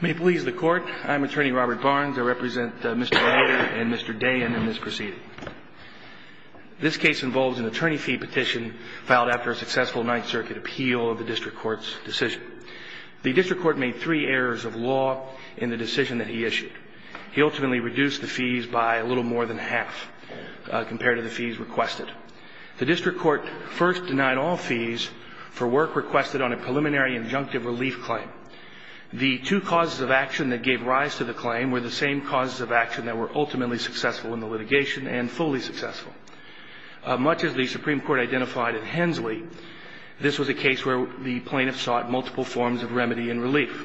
May it please the Court, I'm Attorney Robert Barnes. I represent Mr. Nader and Mr. Dayen in this proceeding. This case involves an attorney fee petition filed after a successful Ninth Circuit appeal of the District Court's decision. The District Court made three errors of law in the decision that he issued. He ultimately reduced the fees by a little more than half compared to the fees requested. The District Court first denied all fees for work requested on a preliminary injunctive relief claim. The two causes of action that gave rise to the claim were the same causes of action that were ultimately successful in the litigation and fully successful. Much as the Supreme Court identified in Hensley, this was a case where the plaintiff sought multiple forms of remedy and relief.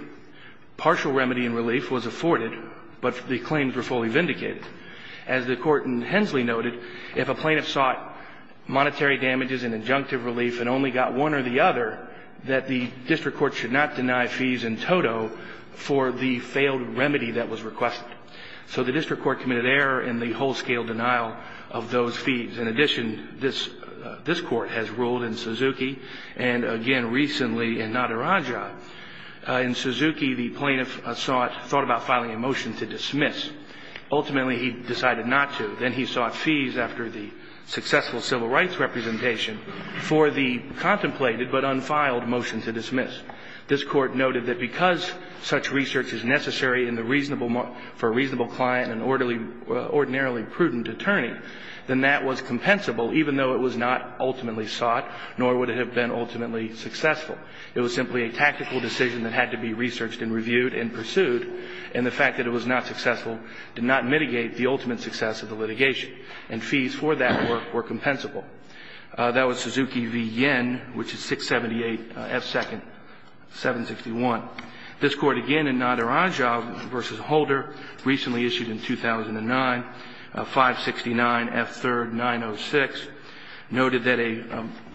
Partial remedy and relief was afforded, but the claims were fully vindicated. As the Court in Hensley noted, if a plaintiff sought monetary damages and injunctive relief and only got one or the other, that the District Court should not deny fees in toto for the failed remedy that was requested. So the District Court committed error in the whole-scale denial of those fees. In addition, this Court has ruled in Suzuki and, again, recently in Naderaja. In Suzuki, the plaintiff sought, thought about filing a motion to dismiss. Ultimately, he decided not to. Then he sought fees after the successful civil rights representation for the contemplated but unfiled motion to dismiss. This Court noted that because such research is necessary for a reasonable client, an ordinarily prudent attorney, then that was compensable, even though it was not ultimately sought, nor would it have been ultimately successful. It was simply a tactical decision that had to be researched and reviewed and pursued, and the fact that it was not successful did not mitigate the ultimate success of the litigation. And fees for that were compensable. That was Suzuki v. Yen, which is 678 F. 2nd, 761. This Court, again, in Naderaja v. Holder, recently issued in 2009, 569 F. 3rd, 906, noted that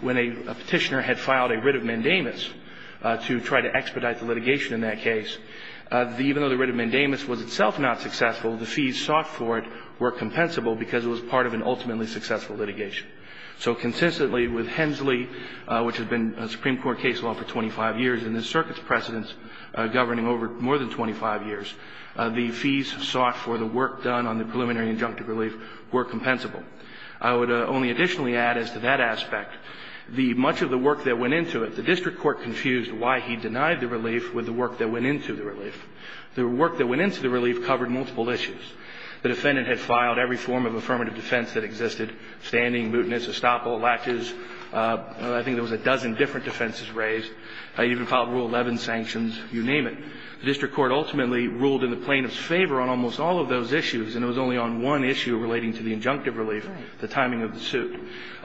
when a Petitioner had filed a writ of mandamus to try to expedite the litigation in that case, even though the writ of mandamus was itself not successful, the fees sought for it were compensable because it was part of an ultimately successful litigation. So consistently with Hensley, which has been a Supreme Court case law for 25 years and this Circuit's precedence governing over more than 25 years, the fees sought for the work done on the preliminary injunctive relief were compensable. I would only additionally add as to that aspect, much of the work that went into it, the district court confused why he denied the relief with the work that went into the relief. The work that went into the relief covered multiple issues. The defendant had filed every form of affirmative defense that existed, standing, mootness, estoppel, latches. I think there was a dozen different defenses raised. He even filed Rule 11 sanctions. You name it. The district court ultimately ruled in the plaintiff's favor on almost all of those issues, and it was only on one issue relating to the injunctive relief, the timing of the suit.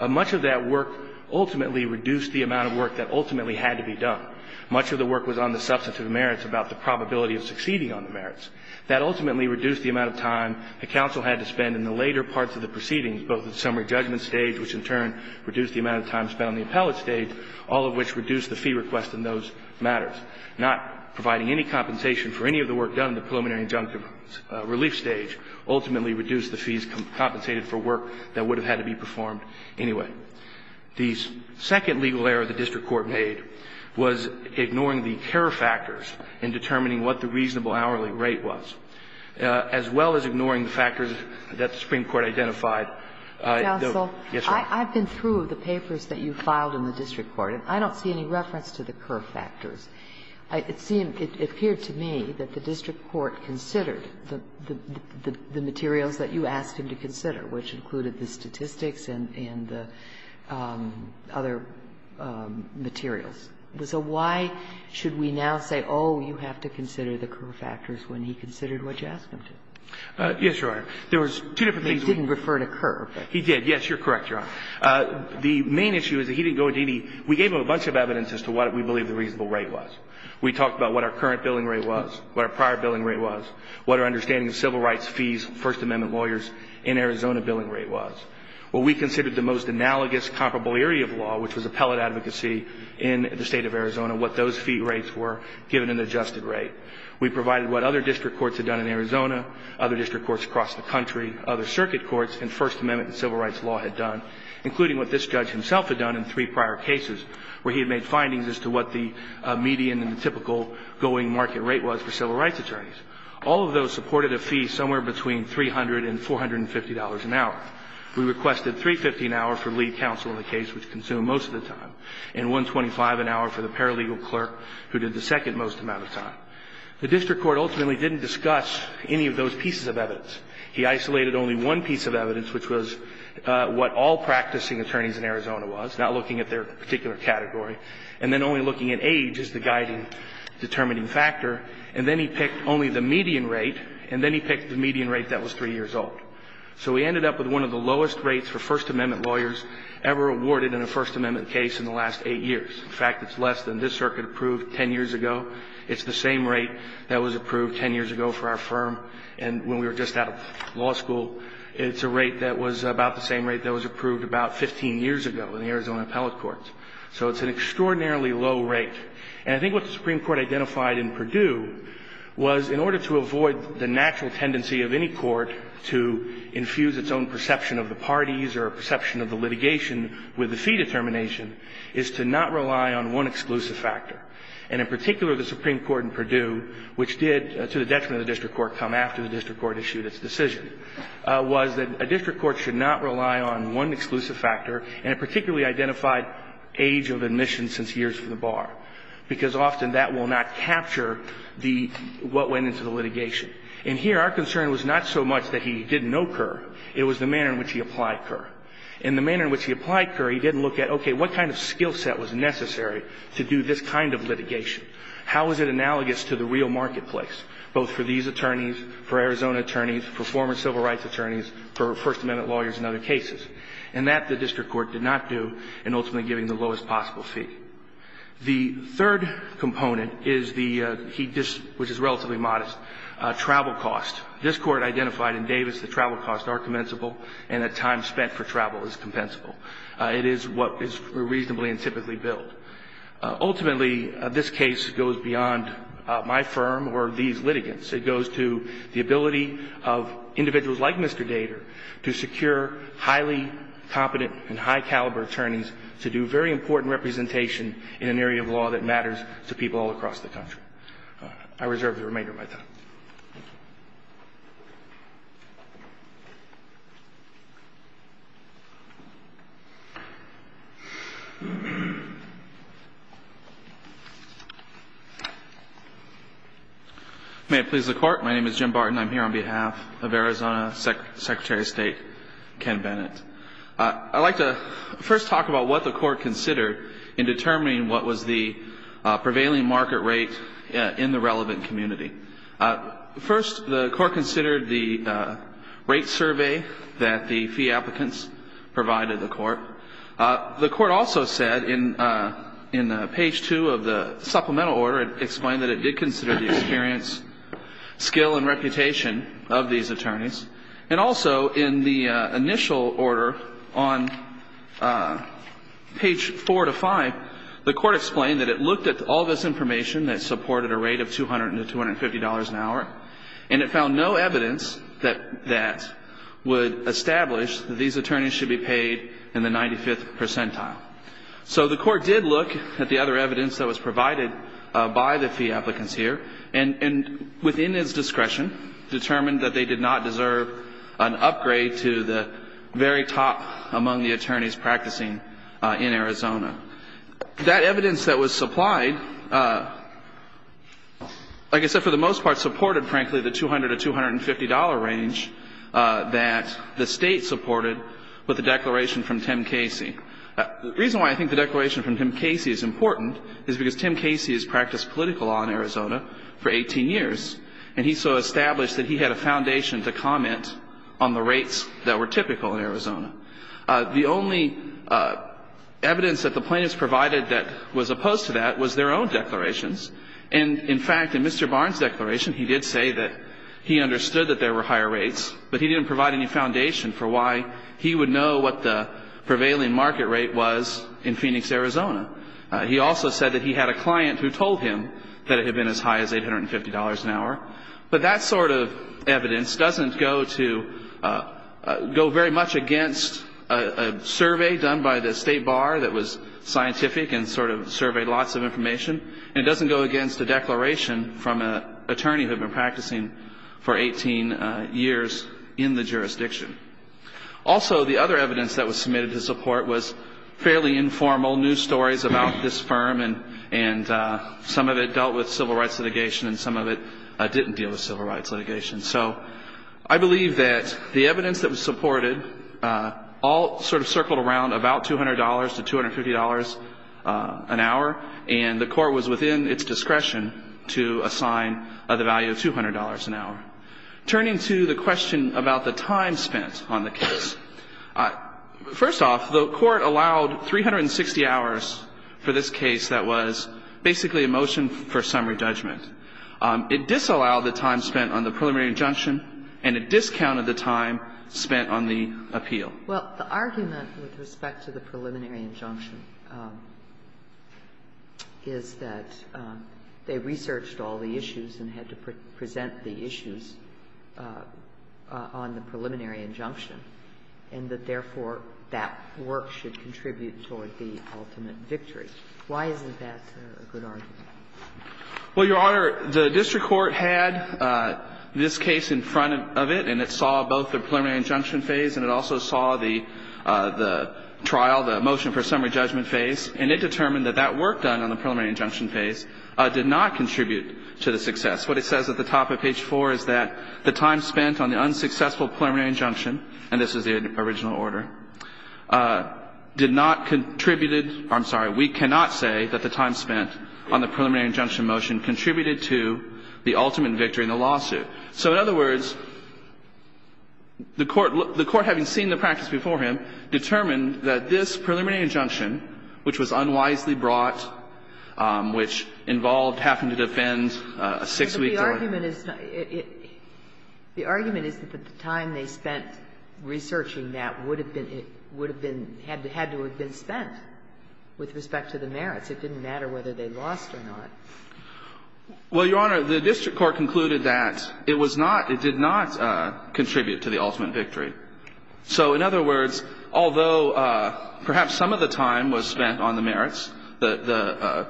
Much of that work ultimately reduced the amount of work that ultimately had to be done. Much of the work was on the substantive merits about the probability of succeeding on the merits. That ultimately reduced the amount of time the counsel had to spend in the later parts of the proceedings, both at the summary judgment stage, which in turn reduced the amount of time spent on the appellate stage, all of which reduced the fee request in those matters. Not providing any compensation for any of the work done in the preliminary injunctive relief stage ultimately reduced the fees compensated for work that would have had to be performed anyway. The second legal error the district court made was ignoring the Kerr factors in determining what the reasonable hourly rate was, as well as ignoring the factors that the Supreme Court identified. Yes, ma'am. I've been through the papers that you filed in the district court, and I don't see any reference to the Kerr factors. It seemed to me that the district court considered the materials that you asked him to consider, which included the statistics and the other materials. So why should we now say, oh, you have to consider the Kerr factors, when he considered what you asked him to? Yes, Your Honor. There was two different things. He didn't refer to Kerr. He did, yes. You're correct, Your Honor. The main issue is that he didn't go into any we gave him a bunch of evidence as to what we believe the reasonable rate was. We talked about what our current billing rate was, what our prior billing rate was, what our understanding of civil rights fees, First Amendment lawyers in Arizona billing rate was. What we considered the most analogous comparable area of law, which was appellate advocacy in the state of Arizona, what those fee rates were, given an adjusted rate. We provided what other district courts had done in Arizona, other district courts across the country, other circuit courts, and First Amendment and civil rights law had done, including what this judge himself had done in three prior cases, where he had made findings as to what the median and the typical going market rate was for civil rights attorneys. All of those supported a fee somewhere between $300 and $450 an hour. We requested $350 an hour for lead counsel in the case, which consumed most of the time, and $125 an hour for the paralegal clerk, who did the second most amount of time. The district court ultimately didn't discuss any of those pieces of evidence. He isolated only one piece of evidence, which was what all practicing attorneys in Arizona was, not looking at their particular category, and then only looking at age as the guiding determining factor. And then he picked only the median rate, and then he picked the median rate that was 3 years old. So we ended up with one of the lowest rates for First Amendment lawyers ever awarded in a First Amendment case in the last 8 years. In fact, it's less than this circuit approved 10 years ago. It's the same rate that was approved 10 years ago for our firm. And when we were just out of law school, it's a rate that was about the same rate that was approved about 15 years ago in the Arizona appellate courts. So it's an extraordinarily low rate. And I think what the Supreme Court identified in Perdue was, in order to avoid the natural tendency of any court to infuse its own perception of the parties or a perception of the litigation with the fee determination, is to not rely on one exclusive factor. And in particular, the Supreme Court in Perdue, which did, to the detriment of the district court, come after the district court issued its decision, was that a district court should not rely on one exclusive factor. And it particularly identified age of admission since years for the bar, because often that will not capture the – what went into the litigation. And here, our concern was not so much that he didn't know Kerr. It was the manner in which he applied Kerr. In the manner in which he applied Kerr, he didn't look at, okay, what kind of skill set was necessary to do this kind of litigation? How is it analogous to the real marketplace, both for these attorneys, for Arizona attorneys, for former civil rights attorneys, for First Amendment lawyers in other cases? And that the district court did not do in ultimately giving the lowest possible fee. The third component is the – which is relatively modest – travel cost. This Court identified in Davis that travel costs are compensable and that time spent for travel is compensable. It is what is reasonably and typically billed. Ultimately, this case goes beyond my firm or these litigants. It goes to the ability of individuals like Mr. Dater to secure highly competent and high caliber attorneys to do very important representation in an area of law that matters to people all across the country. I reserve the remainder of my time. May it please the Court. My name is Jim Barton. I'm here on behalf of Arizona Secretary of State Ken Bennett. I'd like to first talk about what the Court considered in determining what was the prevailing market rate in the relevant community. I'm not a lawyer. First, the Court considered the rate survey that the fee applicants provided the Court. The Court also said in page 2 of the supplemental order, it explained that it did consider the experience, skill, and reputation of these attorneys. And also in the initial order on page 4 to 5, the Court explained that it looked at all this information that supported a rate of $200 to $250 an hour. And it found no evidence that that would establish that these attorneys should be paid in the 95th percentile. So the Court did look at the other evidence that was provided by the fee applicants here, and within its discretion, determined that they did not deserve an upgrade to the very top among the attorneys practicing in Arizona. That evidence that was supplied, like I said, for the most part supported, frankly, the $200 to $250 range that the State supported with the declaration from Tim Casey. The reason why I think the declaration from Tim Casey is important is because Tim Casey has practiced political law in Arizona for 18 years, and he so established that he had a foundation to comment on the rates that were typical in Arizona. The only evidence that the plaintiffs provided that was opposed to that was their own declarations. And, in fact, in Mr. Barnes' declaration, he did say that he understood that there were higher rates, but he didn't provide any foundation for why he would know what the prevailing market rate was in Phoenix, Arizona. He also said that he had a client who told him that it had been as high as $850 an hour. But that sort of evidence doesn't go to go very much against a survey done by the State Bar that was scientific and sort of surveyed lots of information, and it doesn't go against a declaration from an attorney who had been practicing for 18 years in the jurisdiction. Also, the other evidence that was submitted to support was fairly informal news stories about this firm, and some of it dealt with civil rights litigation and some of it didn't deal with civil rights litigation. So I believe that the evidence that was supported all sort of circled around about $200 to $250 an hour, and the Court was within its discretion to assign the value of $200 an hour. Turning to the question about the time spent on the case, first off, the Court allowed 360 hours for this case that was basically a motion for summary judgment. It disallowed the time spent on the preliminary injunction, and it discounted the time spent on the appeal. Well, the argument with respect to the preliminary injunction is that they researched all the issues and had to present the issues on the preliminary injunction, and that, therefore, that work should contribute toward the ultimate victory. Why isn't that a good argument? Well, Your Honor, the district court had this case in front of it, and it saw both the preliminary injunction phase and it also saw the trial, the motion for summary judgment phase, and it determined that that work done on the preliminary injunction phase did not contribute to the success. What it says at the top of page 4 is that the time spent on the unsuccessful preliminary injunction, and this is the original order, did not contribute to the ultimate victory in the lawsuit. So in other words, the Court, having seen the practice before him, determined that this preliminary injunction, which was unwisely brought, which involved having to defend a 6-week order. But the argument is that the time they spent researching that would have been, would have contributed to the ultimate victory. to the ultimate victory. The Court found, with respect to the merits, it didn't matter whether they lost or not. Well, Your Honor, the district court concluded that it was not, it did not contribute to the ultimate victory. So in other words, although perhaps some of the time was spent on the merits, the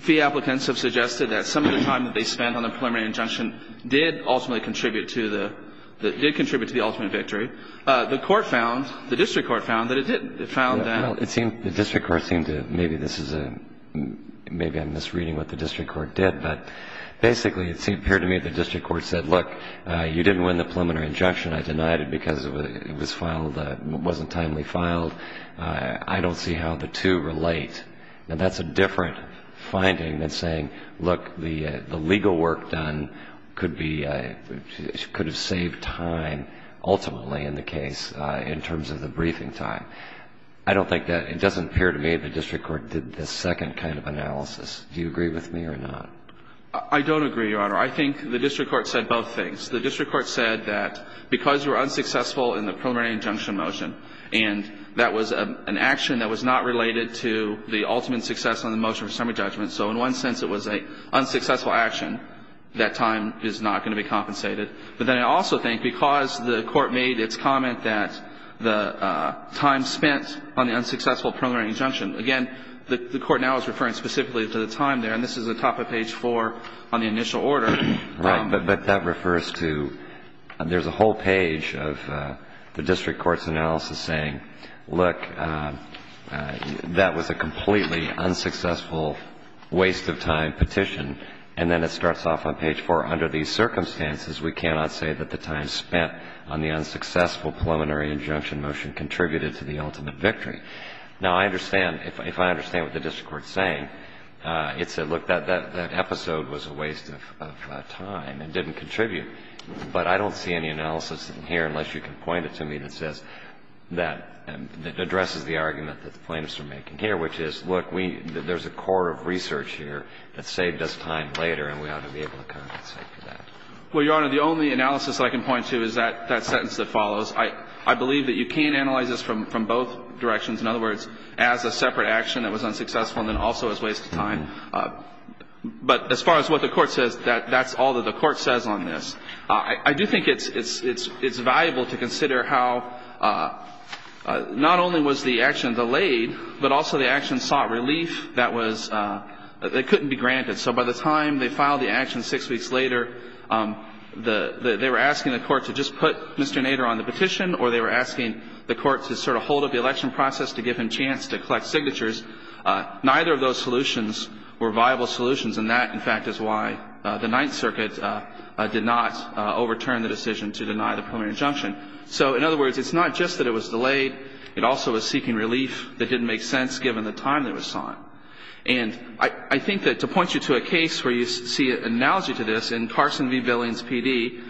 fee applicants have suggested that some of the time that they spent on the preliminary injunction did ultimately contribute to the, did contribute to the ultimate victory. The Court found, the district court found, that it didn't. It found that. Well, it seems, the district court seemed to, maybe this is a, maybe I'm misreading what the district court did, but basically it seemed, it appeared to me that the district court said, look, you didn't win the preliminary injunction. I denied it because it was filed, it wasn't timely filed. I don't see how the two relate. And that's a different finding than saying, look, the legal work done could be, could have saved time ultimately in the case in terms of the briefing time. I don't think that, it doesn't appear to me that the district court did the second kind of analysis. Do you agree with me or not? I don't agree, Your Honor. I think the district court said both things. The district court said that because you were unsuccessful in the preliminary injunction motion. And that was an action that was not related to the ultimate success on the motion for summary judgment. So in one sense it was an unsuccessful action. That time is not going to be compensated. But then I also think because the Court made its comment that the time spent on the unsuccessful preliminary injunction, again, the Court now is referring specifically to the time there. And this is at the top of page 4 on the initial order. Right. But that refers to, there's a whole page of the district court's analysis saying, look, that was a completely unsuccessful waste of time petition. And then it starts off on page 4. Under these circumstances, we cannot say that the time spent on the unsuccessful preliminary injunction motion contributed to the ultimate victory. Now, I understand, if I understand what the district court is saying, it said, look, that episode was a waste of time and didn't contribute. But I don't see any analysis in here, unless you can point it to me, that says, that addresses the argument that the plaintiffs are making here, which is, look, there's a core of research here that saved us time later, and we ought to be able to compensate for that. Well, Your Honor, the only analysis I can point to is that sentence that follows. I believe that you can't analyze this from both directions. In other words, as a separate action that was unsuccessful and then also as a waste of time. But as far as what the Court says, that's all that the Court says on this. I do think it's valuable to consider how not only was the action delayed, but also the action sought relief that was – that couldn't be granted. So by the time they filed the action six weeks later, they were asking the Court to just put Mr. Nader on the petition, or they were asking the Court to sort of hold up the election process to give him a chance to collect signatures. Neither of those solutions were viable solutions, and that, in fact, is why the Ninth Circuit did not overturn the decision to deny the preliminary injunction. So in other words, it's not just that it was delayed. It also was seeking relief that didn't make sense given the time that it was sought. And I think that to point you to a case where you see an analogy to this, in Carson v. Billings, P.D.,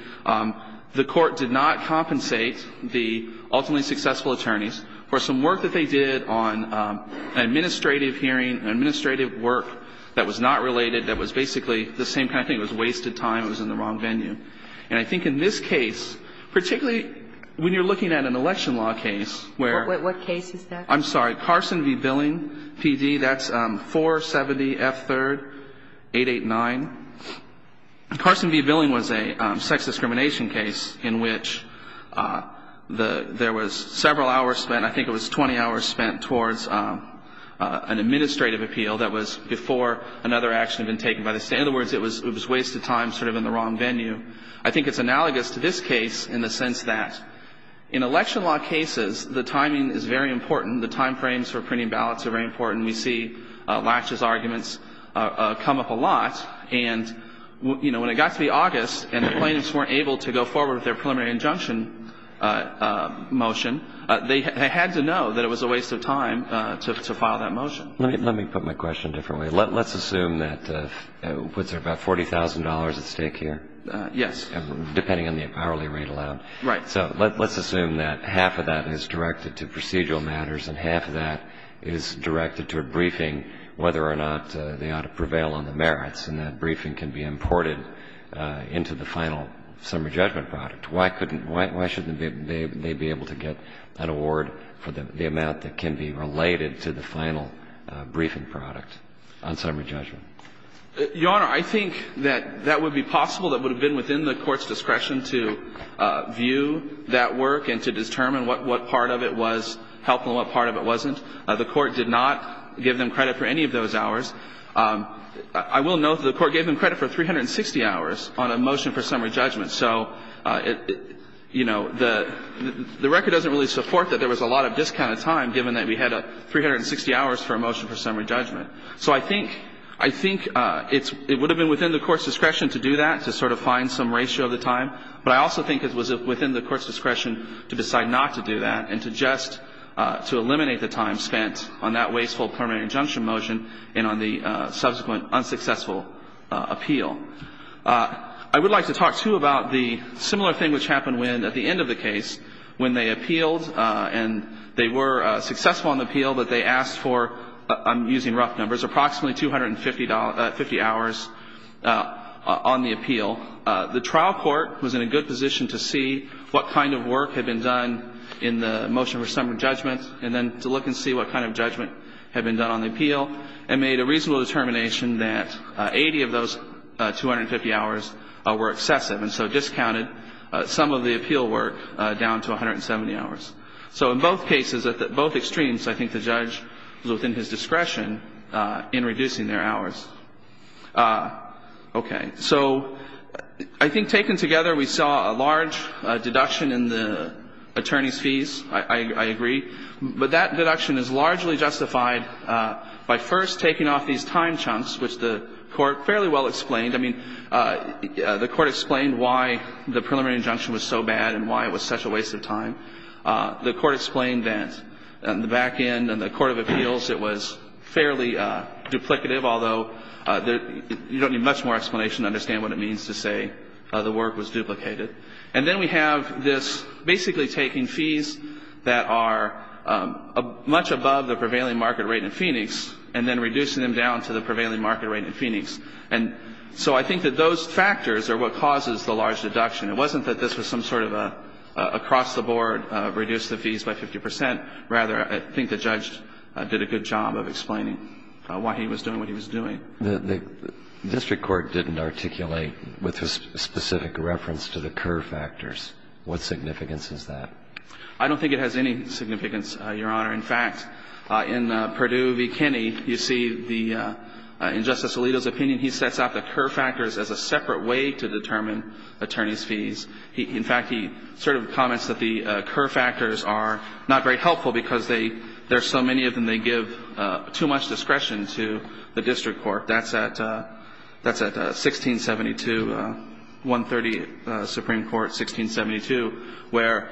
the Court did not compensate the ultimately successful attorneys for some work that they did on an administrative hearing, an administrative work that was not related, that was basically the same kind of thing. It was wasted time. It was in the wrong venue. And I think in this case, particularly when you're looking at an election law case where – What case is that? I'm sorry. Carson v. Billings, P.D. That's 470F3-889. Carson v. Billings was a sex discrimination case in which there was several hours spent, I think it was 20 hours spent, towards an administrative appeal that was before another action had been taken by the State. In other words, it was wasted time sort of in the wrong venue. I think it's analogous to this case in the sense that in election law cases, the timing is very important. The time frames for printing ballots are very important. We see Latch's arguments come up a lot. And when it got to be August and the plaintiffs weren't able to go forward with their preliminary injunction motion, they had to know that it was a waste of time to file that motion. Let me put my question a different way. Let's assume that – was there about $40,000 at stake here? Yes. Depending on the hourly rate allowed. Right. So let's assume that half of that is directed to procedural matters and half of that is directed to a briefing whether or not they ought to prevail on the merits and that briefing can be imported into the final summary judgment product. Why couldn't – why shouldn't they be able to get an award for the amount that can be related to the final briefing product on summary judgment? Your Honor, I think that that would be possible. That would have been within the Court's discretion to view that work and to determine what part of it was helpful and what part of it wasn't. The Court did not give them credit for any of those hours. I will note that the Court gave them credit for 360 hours on a motion for summary judgment. So, you know, the record doesn't really support that there was a lot of discounted time given that we had 360 hours for a motion for summary judgment. So I think – I think it's – it would have been within the Court's discretion to do that, to sort of find some ratio of the time. But I also think it was within the Court's discretion to decide not to do that and to just – to eliminate the time spent on that wasteful preliminary injunction motion and on the subsequent unsuccessful appeal. I would like to talk, too, about the similar thing which happened when, at the end of the case, when they appealed and they were successful in the appeal, but they asked for – I'm using rough numbers – approximately $250 – 50 hours on the appeal. The trial court was in a good position to see what kind of work had been done in the motion for summary judgment and then to look and see what kind of judgment had been done on the appeal and made a reasonable determination that 80 of those 250 hours were excessive and so discounted some of the appeal work down to 170 hours. So in both cases, at both extremes, I think the judge was within his discretion in reducing their hours. Okay. So I think taken together, we saw a large deduction in the attorneys' fees. I agree. But that deduction is largely justified by first taking off these time chunks, which the Court fairly well explained. I mean, the Court explained why the preliminary injunction was so bad and why it was such a waste of time. The Court explained that on the back end, on the court of appeals, it was fairly duplicative, although you don't need much more explanation to understand what it means to say the work was duplicated. And then we have this basically taking fees that are much above the prevailing market rate in Phoenix and then reducing them down to the prevailing market rate in Phoenix. And so I think that those factors are what causes the large deduction. It wasn't that this was some sort of an across-the-board reduce the fees by 50 percent. Rather, I think the judge did a good job of explaining why he was doing what he was doing. The district court didn't articulate with specific reference to the Kerr factors. What significance is that? I don't think it has any significance, Your Honor. In fact, in Perdue v. Kenney, you see the – in Justice Alito's opinion, he sets out the Kerr factors as a separate way to determine attorneys' fees. In fact, he sort of comments that the Kerr factors are not very helpful because they – there are so many of them they give too much discretion to the district court. That's at – that's at 1672, 130 Supreme Court, 1672, where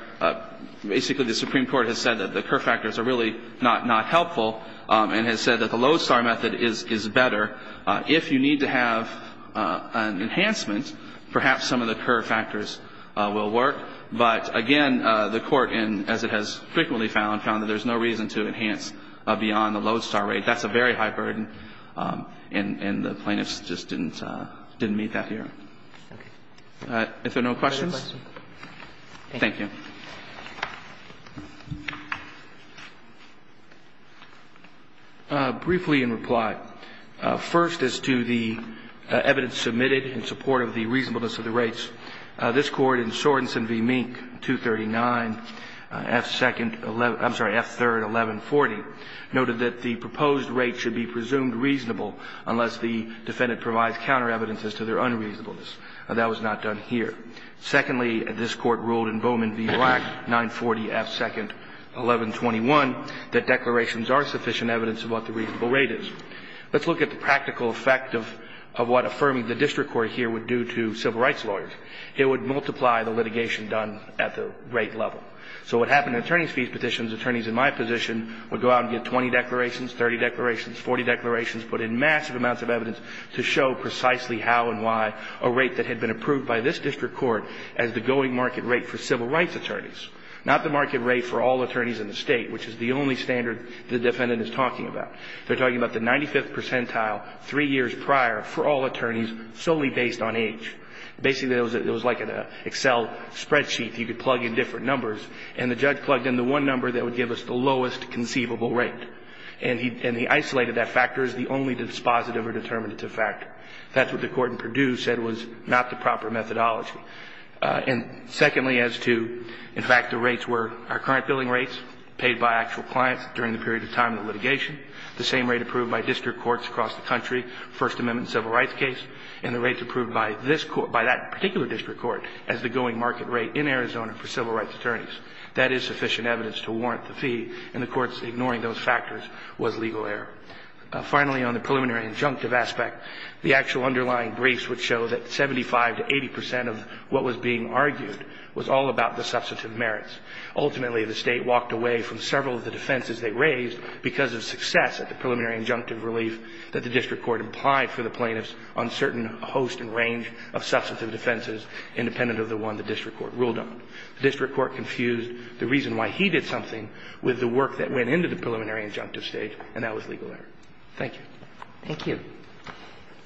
basically the Supreme Court has said that the Kerr factors are really not helpful and has said that the Lodestar method is better. If you need to have an enhancement, perhaps some of the Kerr factors will work. But again, the Court, as it has frequently found, found that there's no reason to enhance beyond the Lodestar rate. That's a very high burden, and the plaintiffs just didn't meet that here. If there are no questions. Thank you. Briefly in reply. First, as to the evidence submitted in support of the reasonableness of the rates, this Court in Sorenson v. Mink, 239, F2nd – I'm sorry, F3rd, 1140, noted that the proposed rate should be presumed reasonable unless the defendant provides counter evidences to their unreasonableness. That was not done here. Secondly, this Court ruled in Bowman v. Black, 940, F2nd, 1121, that declarations are sufficient evidence of what the reasonable rate is. Let's look at the practical effect of what affirming the district court here would do to civil rights lawyers. It would multiply the litigation done at the rate level. So what happened in attorneys' fees petitions, attorneys in my position would go out and get 20 declarations, 30 declarations, 40 declarations, put in massive amounts of evidence to show precisely how and why a rate that had been approved by this district court as the going market rate for civil rights attorneys, not the market rate for all attorneys in the State, which is the only standard the defendant is talking about. They're talking about the 95th percentile three years prior for all attorneys solely based on age. Basically, it was like an Excel spreadsheet. You could plug in different numbers, and the judge plugged in the one number that would give us the lowest conceivable rate. And he isolated that factor as the only dispositive or determinative factor. That's what the Court in Purdue said was not the proper methodology. And secondly, as to, in fact, the rates were our current billing rates paid by actual clients during the period of time of litigation, the same rate approved by district and the rates approved by this court, by that particular district court as the going market rate in Arizona for civil rights attorneys. That is sufficient evidence to warrant the fee, and the Court's ignoring those factors was legal error. Finally, on the preliminary injunctive aspect, the actual underlying briefs would show that 75 to 80 percent of what was being argued was all about the substantive merits. Ultimately, the State walked away from several of the defenses they raised because of success at the preliminary injunctive relief that the district court implied for the plaintiffs on certain host and range of substantive defenses independent of the one the district court ruled on. The district court confused the reason why he did something with the work that went into the preliminary injunctive stage, and that was legal error. Thank you. Thank you.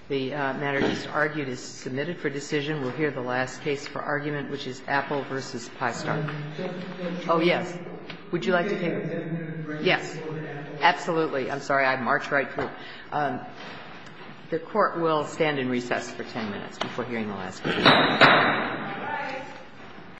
The matter just argued is submitted for decision. We'll hear the last case for argument, which is Apple v. Pystar. Oh, yes. Would you like to take it? Yes. Absolutely. I marched right through. The Court will stand in recess for 10 minutes before hearing the last case. All right.